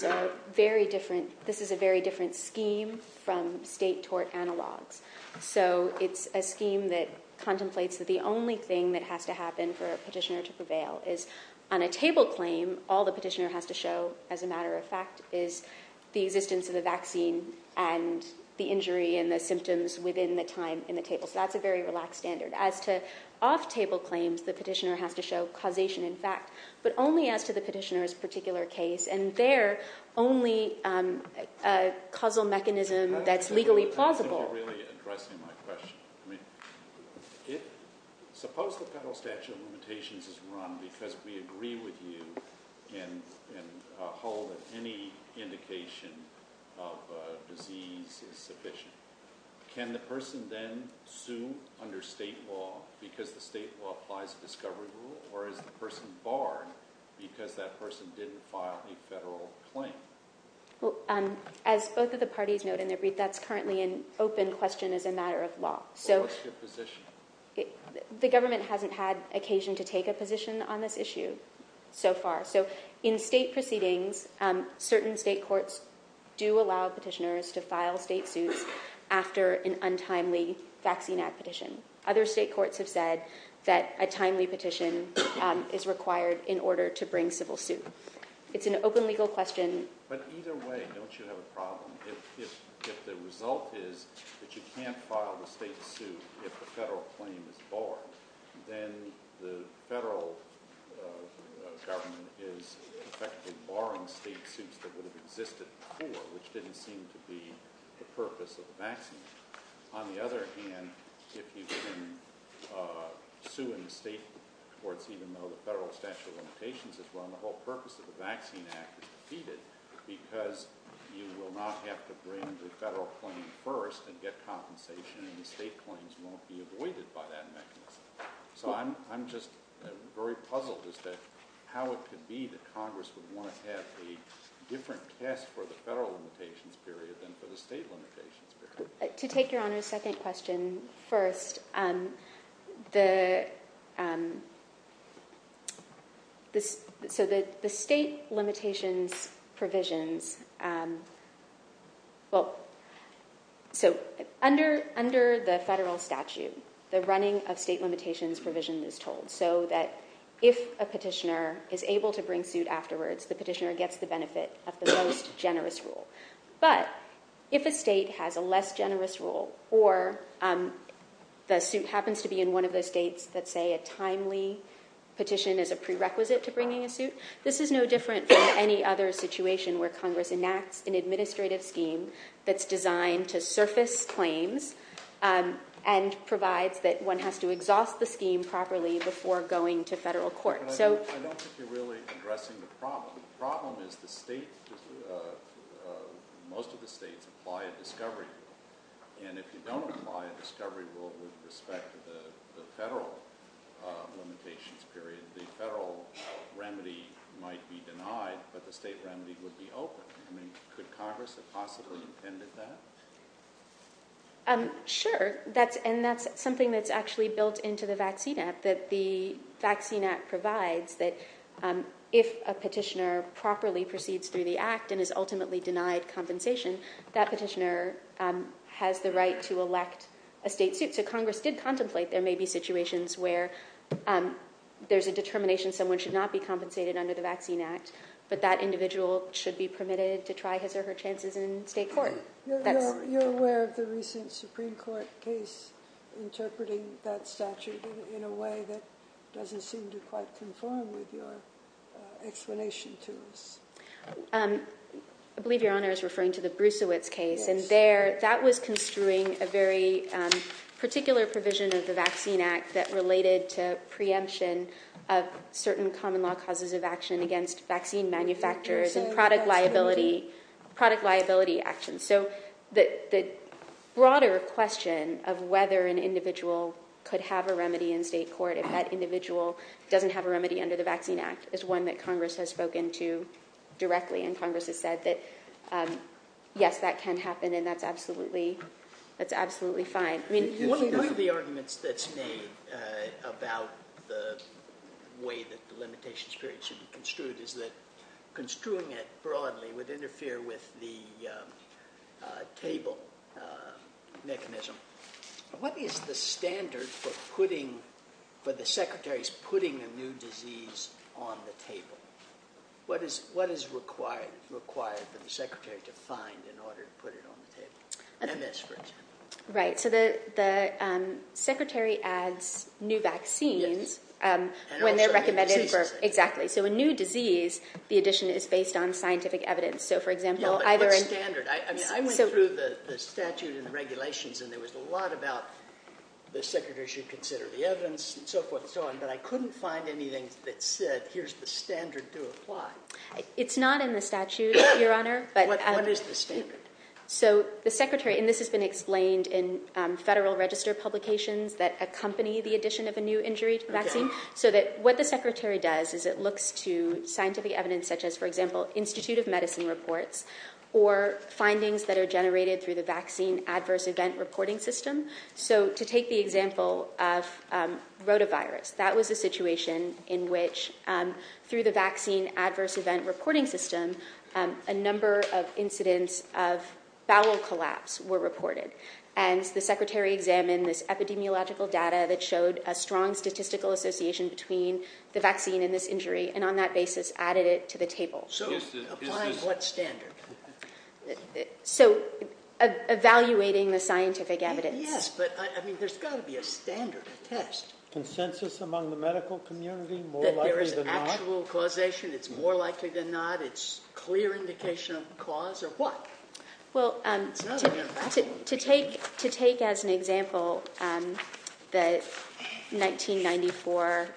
is a very different scheme from state tort analogs. So it's a scheme that contemplates that the only thing that has to happen for a petitioner to prevail is on a table claim, all the petitioner has to show, as a matter of fact, is the existence of the vaccine and the injury and the symptoms within the time in the table. So that's a very relaxed standard. As to off-table claims, the petitioner has to show causation, in fact, but only as to the petitioner's particular case, and they're only a causal mechanism that's legally plausible. You're really addressing my question. Suppose the federal statute of limitations is run because we agree with you and hold that any indication of disease is sufficient. Can the person then sue under state law because the state law applies a discovery rule, or is the person barred because that person didn't file a federal claim? As both of the parties note in their brief, that's currently an open question as a matter of law. What's your position? The government hasn't had occasion to take a position on this issue so far. So in state proceedings, certain state courts do allow petitioners to file state suits after an untimely vaccine ad petition. Other state courts have said that a timely petition is required in order to bring civil suit. It's an open legal question. But either way, don't you have a problem if the result is that you can't file the state suit if the federal claim is barred, then the federal government is effectively barring state suits that would have existed before, which didn't seem to be the purpose of the vaccine. On the other hand, if you can sue in the state courts even though the federal statute of limitations is run, the whole purpose of the Vaccine Act is defeated because you will not have to bring the federal claim first and get compensation, and the state claims won't be avoided by that mechanism. So I'm just very puzzled as to how it could be that Congress would want to have a different test for the federal limitations period than for the state limitations period. To take Your Honor's second question first, so the state limitations provisions... Under the federal statute, the running of state limitations provision is told so that if a petitioner is able to bring suit afterwards, the petitioner gets the benefit of the most generous rule. But if a state has a less generous rule or the suit happens to be in one of those states that say a timely petition is a prerequisite to bringing a suit, this is no different from any other situation where Congress enacts an administrative scheme that's designed to surface claims and provides that one has to exhaust the scheme properly before going to federal court. But I don't think you're really addressing the problem. The problem is most of the states apply a discovery rule, and if you don't apply a discovery rule with respect to the federal limitations period, the federal remedy might be denied, but the state remedy would be open. I mean, could Congress have possibly intended that? Sure, and that's something that's actually built into the Vaccine Act, that the Vaccine Act provides that if a petitioner properly proceeds through the act and is ultimately denied compensation, that petitioner has the right to elect a state suit. So Congress did contemplate there may be situations where there's a determination someone should not be compensated under the Vaccine Act, but that individual should be permitted to try his or her chances in state court. You're aware of the recent Supreme Court case interpreting that statute in a way that doesn't seem to quite conform with your explanation to us. I believe Your Honor is referring to the Brusewitz case, and there, that was construing a very particular provision of the Vaccine Act that related to preemption of certain common law causes of action against vaccine manufacturers and product liability actions. So the broader question of whether an individual could have a remedy in state court if that individual doesn't have a remedy under the Vaccine Act is one that Congress has spoken to directly, and Congress has said that, yes, that can happen, and that's absolutely fine. One of the arguments that's made about the way that the limitations period should be construed is that construing it broadly would interfere with the table mechanism. What is the standard for putting... for the secretaries putting a new disease on the table? What is required for the secretary to find in order to put it on the table? MS, for example. Right, so the secretary adds new vaccines... Yes. ...when they're recommended for... And also new diseases. Exactly. So a new disease, the addition is based on scientific evidence. So, for example, either... Yeah, but what standard? I mean, I went through the statute and the regulations, and there was a lot about the secretary should consider the evidence and so forth and so on, but I couldn't find anything that said, here's the standard to apply. It's not in the statute, Your Honor, but... What is the standard? So the secretary... And this has been explained in federal register publications that accompany the addition of a new injury vaccine. OK. So that what the secretary does is it looks to scientific evidence such as, for example, Institute of Medicine reports or findings that are generated through the Vaccine Adverse Event Reporting System. So to take the example of rotavirus, that was a situation in which, through the Vaccine Adverse Event Reporting System, a number of incidents of bowel collapse were reported. And the secretary examined this epidemiological data that showed a strong statistical association between the vaccine and this injury, and on that basis added it to the table. So applying what standard? So evaluating the scientific evidence. Yes, but, I mean, there's got to be a standard, a test. Consensus among the medical community, more likely than not? That there is actual causation, it's more likely than not. It's clear indication of cause, or what? Well, to take as an example the 1994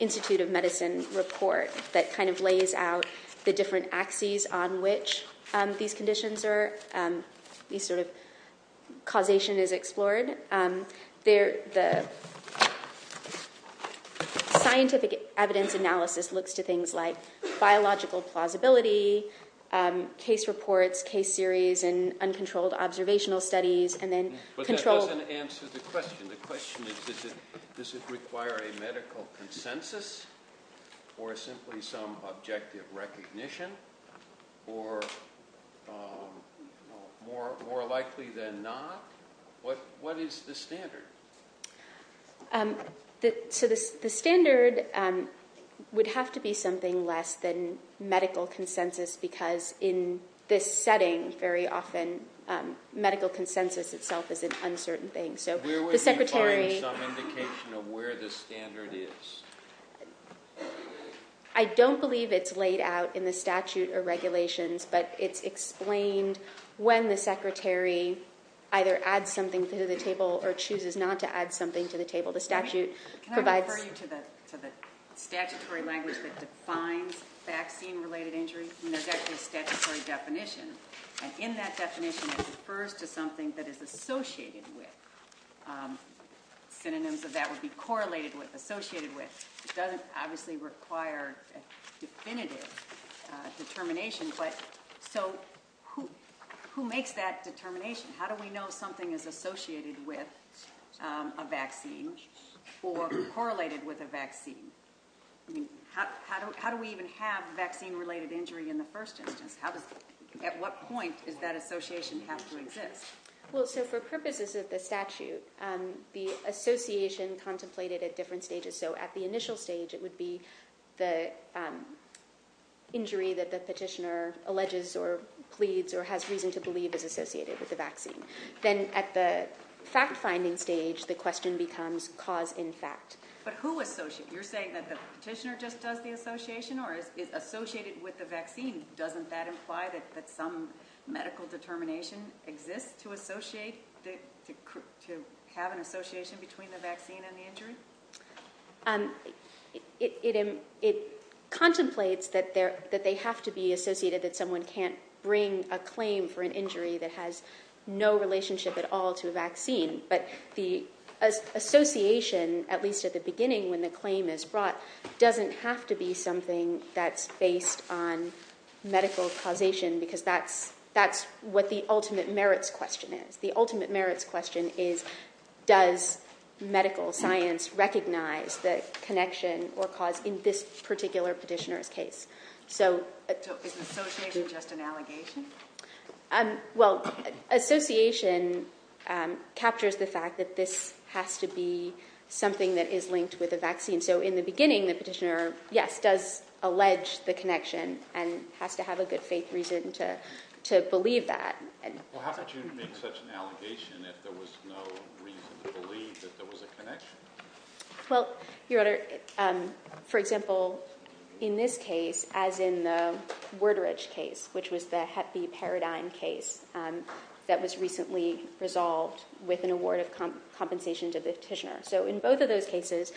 Institute of Medicine report that kind of lays out the different axes on which these conditions are... ..these sort of causation is explored, the scientific evidence analysis looks to things like biological plausibility, case reports, case series, and uncontrolled observational studies, and then... But that doesn't answer the question. The question is, does it require a medical consensus or simply some objective recognition, or more likely than not? What is the standard? So the standard would have to be something less than medical consensus, because in this setting, very often, medical consensus itself is an uncertain thing. Where would we find some indication of where the standard is? I don't believe it's laid out in the statute or regulations, but it's explained when the secretary either adds something to the table or chooses not to add something to the table. The statute provides... Can I refer you to the statutory language that defines vaccine-related injury? There's actually a statutory definition, and in that definition, it refers to something that is associated with. Synonyms of that would be correlated with, associated with. It doesn't obviously require definitive determination, but so who makes that determination? How do we know something is associated with a vaccine or correlated with a vaccine? How do we even have vaccine-related injury in the first instance? At what point does that association have to exist? Well, so for purposes of the statute, the association contemplated at different stages. So at the initial stage, it would be the injury that the petitioner alleges or pleads or has reason to believe is associated with the vaccine. Then at the fact-finding stage, the question becomes cause in fact. But who associates? You're saying that the petitioner just does the association or is associated with the vaccine? Doesn't that imply that some medical determination exists to associate, to have an association between the vaccine and the injury? It contemplates that they have to be associated, that someone can't bring a claim for an injury that has no relationship at all to a vaccine. But the association, at least at the beginning when the claim is brought, doesn't have to be something that's based on medical causation, because that's what the ultimate merits question is. The ultimate merits question is, in this particular petitioner's case? So is association just an allegation? Well, association captures the fact that this has to be something that is linked with a vaccine. So in the beginning, the petitioner, yes, does allege the connection and has to have a good faith reason to believe that. Well, how could you make such an allegation if there was no reason to believe that there was a connection? Well, Your Honor, for example, in this case, as in the Worderich case, which was the Hep B paradigm case that was recently resolved with an award of compensation to the petitioner. So in both of those cases,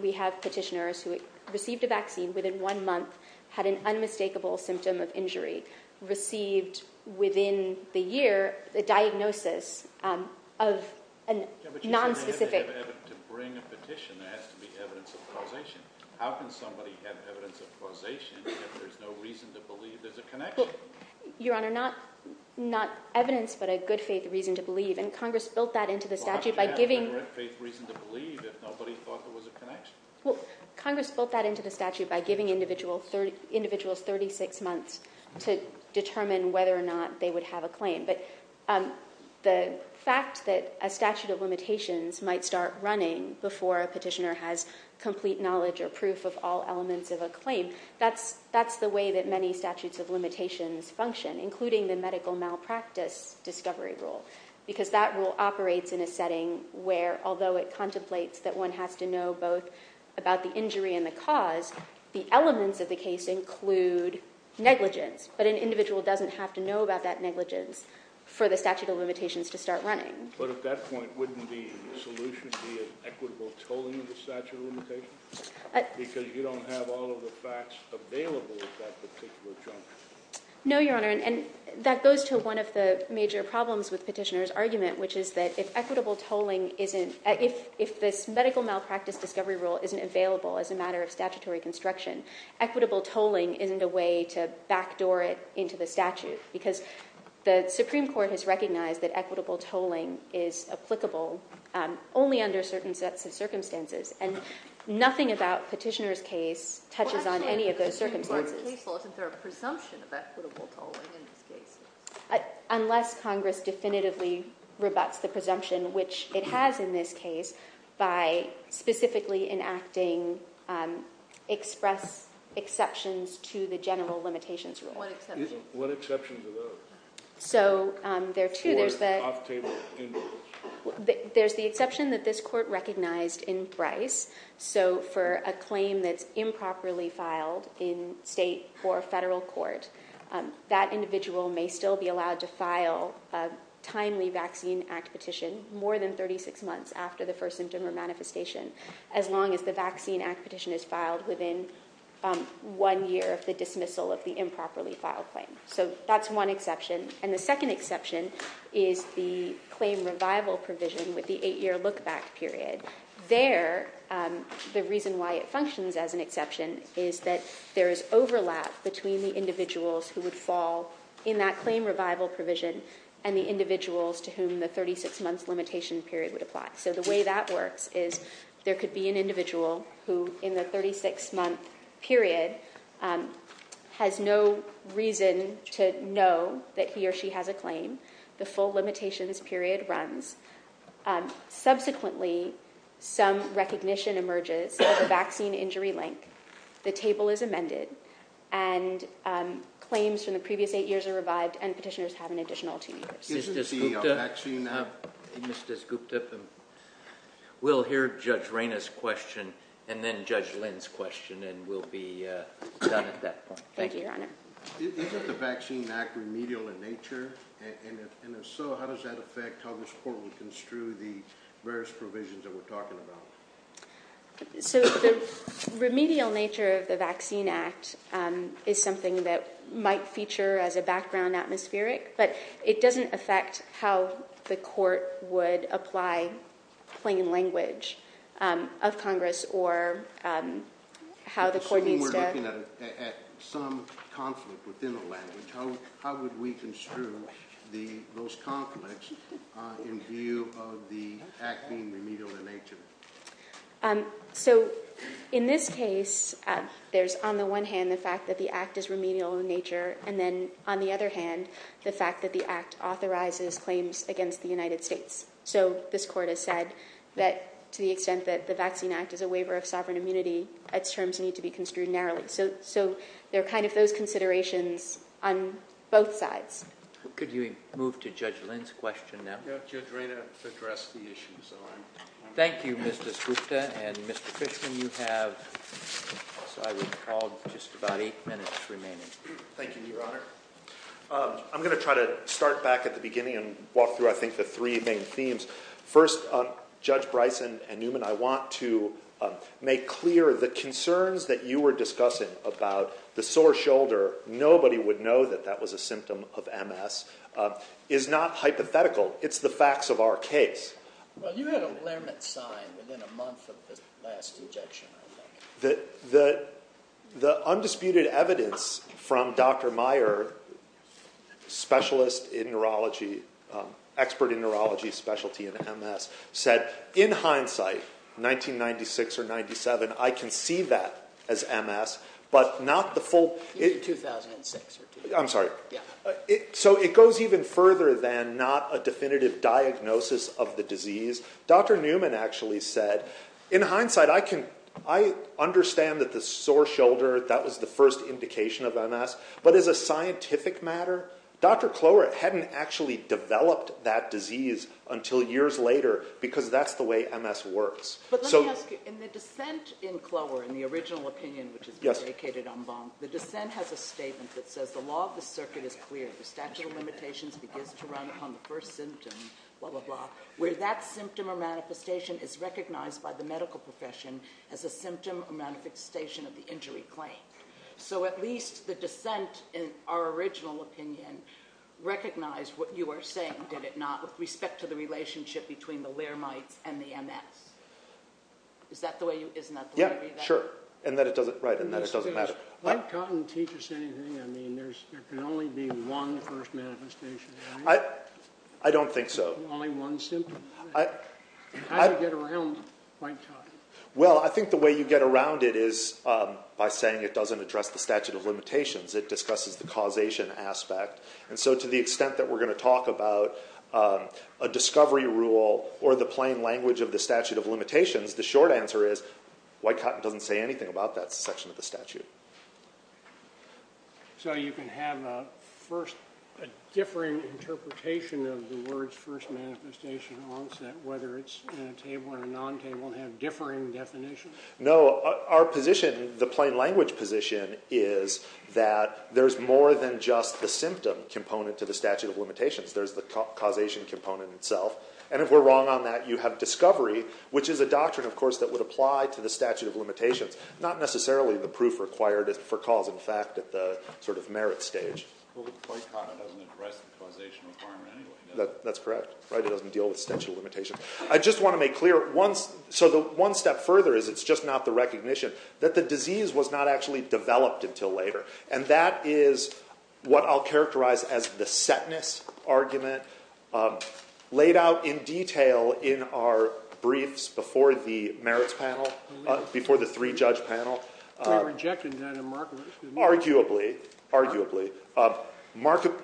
we have petitioners who received a vaccine within one month, had an unmistakable symptom of injury, received within the year the diagnosis of a nonspecific... To bring a petition, there has to be evidence of causation. How can somebody have evidence of causation if there's no reason to believe there's a connection? Well, Your Honor, not evidence, but a good faith reason to believe, and Congress built that into the statute by giving... Why would you have a good faith reason to believe if nobody thought there was a connection? Well, Congress built that into the statute by giving individuals 36 months to determine whether or not they would have a claim. But the fact that a statute of limitations might start running before a petitioner has complete knowledge or proof of all elements of a claim, that's the way that many statutes of limitations function, including the medical malpractice discovery rule, because that rule operates in a setting where, although it contemplates that one has to know both about the injury and the cause, the elements of the case include negligence. But an individual doesn't have to know about that negligence for the statute of limitations to start running. But at that point, wouldn't the solution be an equitable tolling of the statute of limitations? Because you don't have all of the facts available at that particular juncture. No, Your Honor, and that goes to one of the major problems with Petitioner's argument, which is that if equitable tolling isn't... If this medical malpractice discovery rule isn't available as a matter of statutory construction, equitable tolling isn't a way to backdoor it into the statute, because the Supreme Court has recognized that equitable tolling is applicable only under certain sets of circumstances, and nothing about Petitioner's case touches on any of those circumstances. Well, actually, in the Supreme Court case law, isn't there a presumption of equitable tolling in this case? Unless Congress definitively rebuts the presumption, which it has in this case, by specifically enacting express exceptions to the general limitations rule. What exceptions are those? So, there are two. Or off-table individuals. There's the exception that this court recognized in Bryce. So, for a claim that's improperly filed in state or federal court, that individual may still be allowed to file a timely Vaccine Act petition more than 36 months after the first symptom or manifestation, as long as the Vaccine Act petition is filed within one year of the dismissal of the improperly filed claim. So, that's one exception. And the second exception is the claim revival provision with the eight-year look-back period. There, the reason why it functions as an exception is that there is overlap between the individuals who would fall in that claim revival provision and the individuals to whom the 36-month limitation period would apply. So, the way that works is there could be an individual who, in the 36-month period, has no reason to know that he or she has a claim. The full limitations period runs. Subsequently, some recognition emerges of a vaccine injury link. The table is amended. And claims from the previous eight years are revived and petitioners have an additional two years. Isn't the Vaccine Act... Mr. Skupta, we'll hear Judge Rayna's question and then Judge Lynn's question, and we'll be done at that point. Thank you, Your Honor. Isn't the Vaccine Act remedial in nature? And if so, how does that affect how this Court would construe the various provisions that we're talking about? So, the remedial nature of the Vaccine Act is something that might feature as a background atmospheric, but it doesn't affect how the Court would apply plain language of Congress or how the Court needs to... Assuming we're looking at some conflict within the language, how would we construe those conflicts in view of the act being remedial in nature? So, in this case, there's, on the one hand, the fact that the act is remedial in nature, and then, on the other hand, the fact that the act authorizes claims against the United States. So, this Court has said that, to the extent that the Vaccine Act is a waiver of sovereign immunity, its terms need to be construed narrowly. So, there are kind of those considerations on both sides. Could you move to Judge Lynn's question now? Judge Rayna addressed the issue, so I'm... Thank you, Mr. Skupta. And, Mr. Fishman, you have, as I recall, just about eight minutes remaining. Thank you, Your Honor. I'm going to try to start back at the beginning and walk through, I think, the three main themes. First, Judge Bryson and Newman, I want to make clear the concerns that you were discussing about the sore shoulder. Nobody would know that that was a symptom of MS. It's not hypothetical. It's the facts of our case. Well, you had a Lermont sign within a month of the last injection, I think. The undisputed evidence from Dr. Meyer, specialist in neurology, expert in neurology, specialty in MS, said, in hindsight, 1996 or 97, I can see that as MS, but not the full... In 2006 or... I'm sorry. Yeah. So, it goes even further than not a definitive diagnosis of the disease. Dr. Newman actually said, in hindsight, I can... I understand that the sore shoulder, that was the first indication of MS, but as a scientific matter, Dr. Kloer hadn't actually developed that disease until years later, because that's the way MS works. But let me ask you, in the dissent in Kloer, in the original opinion, which has been vacated en banc, the dissent has a statement that says, the law of the circuit is clear. The statute of limitations begins to run upon the first symptom, blah, blah, blah, where that symptom or manifestation is recognized by the medical profession as a symptom or manifestation of the injury claimed. So, at least the dissent, in our original opinion, recognized what you are saying, did it not, with respect to the relationship between the laremites and the MS. Is that the way you... Isn't that the way you read that? Yeah, sure. And that it doesn't... Right, and that it doesn't matter. I haven't gotten teachers to say anything. I mean, there can only be one first manifestation, right? I don't think so. Only one symptom. How do you get around white cotton? Well, I think the way you get around it is by saying it doesn't address the statute of limitations. It discusses the causation aspect. And so, to the extent that we're going to talk about a discovery rule or the plain language of the statute of limitations, the short answer is, white cotton doesn't say anything about that section of the statute. So you can have a first... a differing interpretation of the words first manifestation, onset, whether it's in a table or a non-table, and have differing definitions? No, our position, the plain language position, is that there's more than just the symptom component to the statute of limitations. There's the causation component itself. And if we're wrong on that, you have discovery, which is a doctrine, of course, that would apply to the statute of limitations. Not necessarily the proof required for cause and fact at the sort of merit stage. Well, white cotton doesn't address the causation requirement anyway, does it? That's correct. It doesn't deal with statute of limitations. I just want to make clear, so the one step further is it's just not the recognition that the disease was not actually developed until later. And that is what I'll characterize as the setness argument, laid out in detail in our briefs before the merits panel, before the three-judge panel. We rejected that in Markovitch. Arguably, arguably. Markovitch,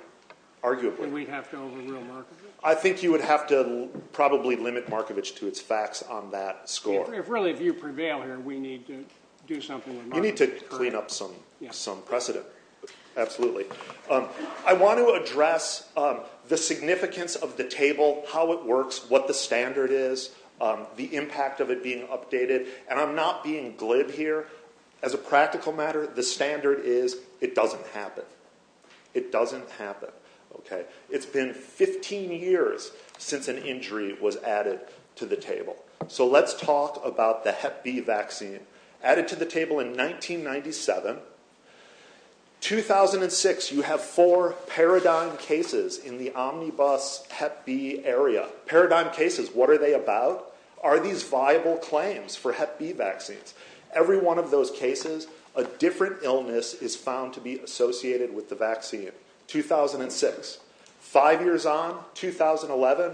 arguably. And we'd have to overrule Markovitch? I think you would have to probably limit Markovitch to its facts on that score. Really, if you prevail here, we need to do something with Markovitch. You need to clean up some precedent. Absolutely. I want to address the significance of the table, how it works, what the standard is, the impact of it being updated, and I'm not being glib here. As a practical matter, the standard is it doesn't happen. It doesn't happen. It's been 15 years since an injury was added to the table. So let's talk about the Hep B vaccine. Added to the table in 1997. 2006, you have four paradigm cases in the omnibus Hep B area. Paradigm cases, what are they about? Are these viable claims for Hep B vaccines? Every one of those cases, a different illness is found to be associated with the vaccine. 2006. Five years on, 2011,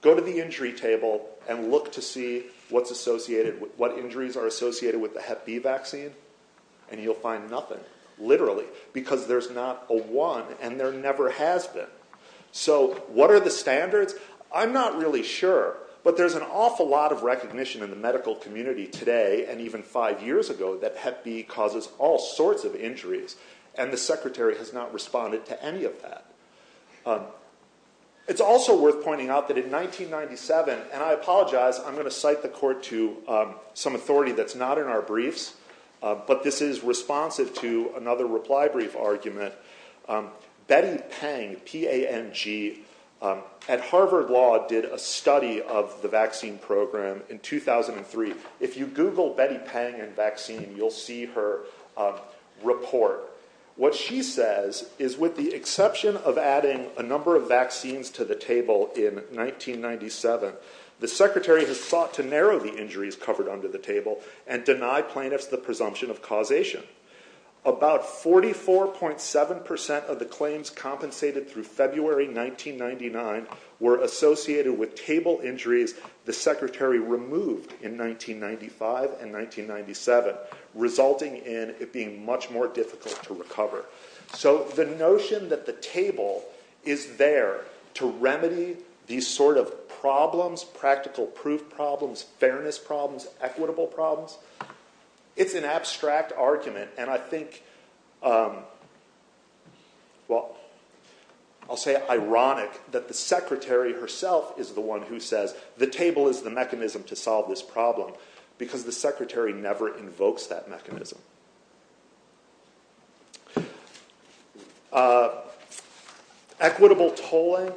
go to the injury table and look to see what injuries are associated with the Hep B vaccine, and you'll find nothing, literally, because there's not a one, and there never has been. So what are the standards? I'm not really sure, but there's an awful lot of recognition in the medical community today, and even five years ago, that Hep B causes all sorts of injuries, and the secretary has not responded to any of that. It's also worth pointing out that in 1997, and I apologize, I'm going to cite the court to some authority that's not in our briefs, but this is responsive to another reply brief argument. Betty Pang, P-A-N-G, at Harvard Law did a study of the vaccine program in 2003. If you Google Betty Pang and vaccine, you'll see her report. What she says is with the exception of adding a number of vaccines to the table in 1997, the secretary has sought to narrow the injuries covered under the table and deny plaintiffs the presumption of causation. About 44.7% of the claims compensated through February 1999 were associated with table injuries the secretary removed in 1995 and 1997, resulting in it being much more difficult to recover. So the notion that the table is there to remedy these sort of problems, practical proof problems, fairness problems, equitable problems, it's an abstract argument, and I think, well, I'll say ironic, that the secretary herself is the one who says the table is the mechanism to solve this problem because the secretary never invokes that mechanism. Equitable tolling,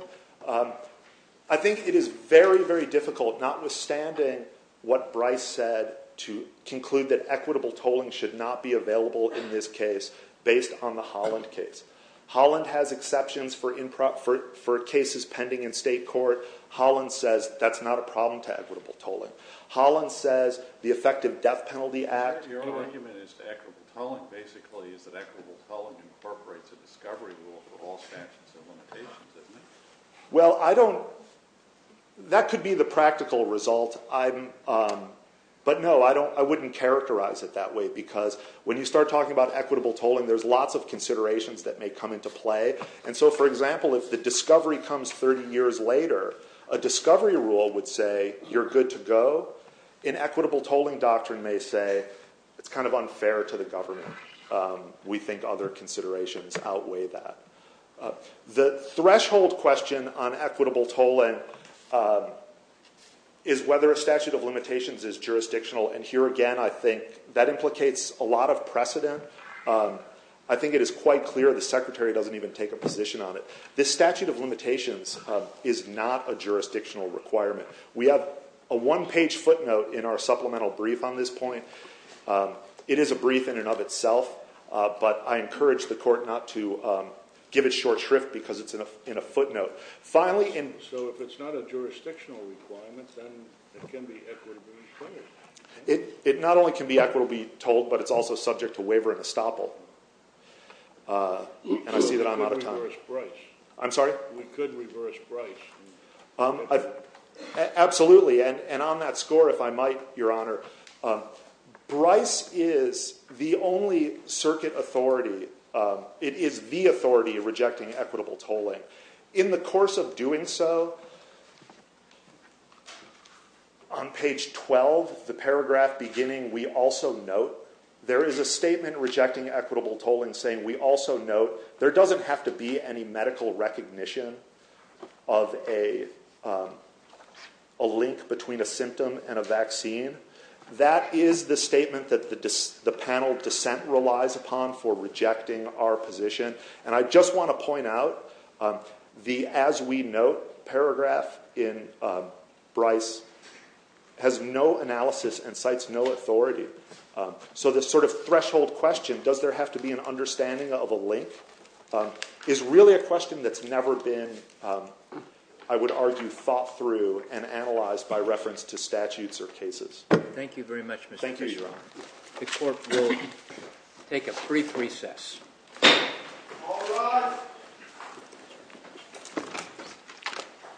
I think it is very, very difficult, notwithstanding what Bryce said to conclude that equitable tolling should not be available in this case based on the Holland case. Holland has exceptions for cases pending in state court. Holland says that's not a problem to equitable tolling. Holland says the effective death penalty act... Your argument is that equitable tolling basically is that equitable tolling incorporates a discovery rule for all statutes and limitations, doesn't it? Well, I don't... That could be the practical result. But no, I wouldn't characterize it that way because when you start talking about equitable tolling, there's lots of considerations that may come into play. And so, for example, if the discovery comes 30 years later, a discovery rule would say you're good to go. An equitable tolling doctrine may say it's kind of unfair to the government. We think other considerations outweigh that. The threshold question on equitable tolling is whether a statute of limitations is jurisdictional. And here again, I think that implicates a lot of precedent. I think it is quite clear the secretary doesn't even take a position on it. This statute of limitations is not a jurisdictional requirement. We have a one-page footnote in our supplemental brief on this point. It is a brief in and of itself, but I encourage the court not to give it short shrift because it's in a footnote. Finally... So if it's not a jurisdictional requirement, then it can be equitably tolled. It not only can be equitably tolled, but it's also subject to waiver and estoppel. And I see that I'm out of time. We could reverse Bryce. I'm sorry? We could reverse Bryce. Absolutely. And on that score, if I might, Your Honor, Bryce is the only circuit authority It is the authority rejecting equitable tolling. In the course of doing so, on page 12, the paragraph beginning, we also note there is a statement rejecting equitable tolling saying we also note there doesn't have to be any medical recognition of a link between a symptom and a vaccine. That is the statement that the panel dissent relies upon for rejecting our position. And I just want to point out the as we note paragraph in Bryce has no analysis and cites no authority. So this sort of threshold question, does there have to be an understanding of a link, is really a question that's never been, I would argue, thought through and analyzed by reference to statutes or cases. Thank you very much, Mr. Kishore. Thank you, Your Honor. The court will take a brief recess.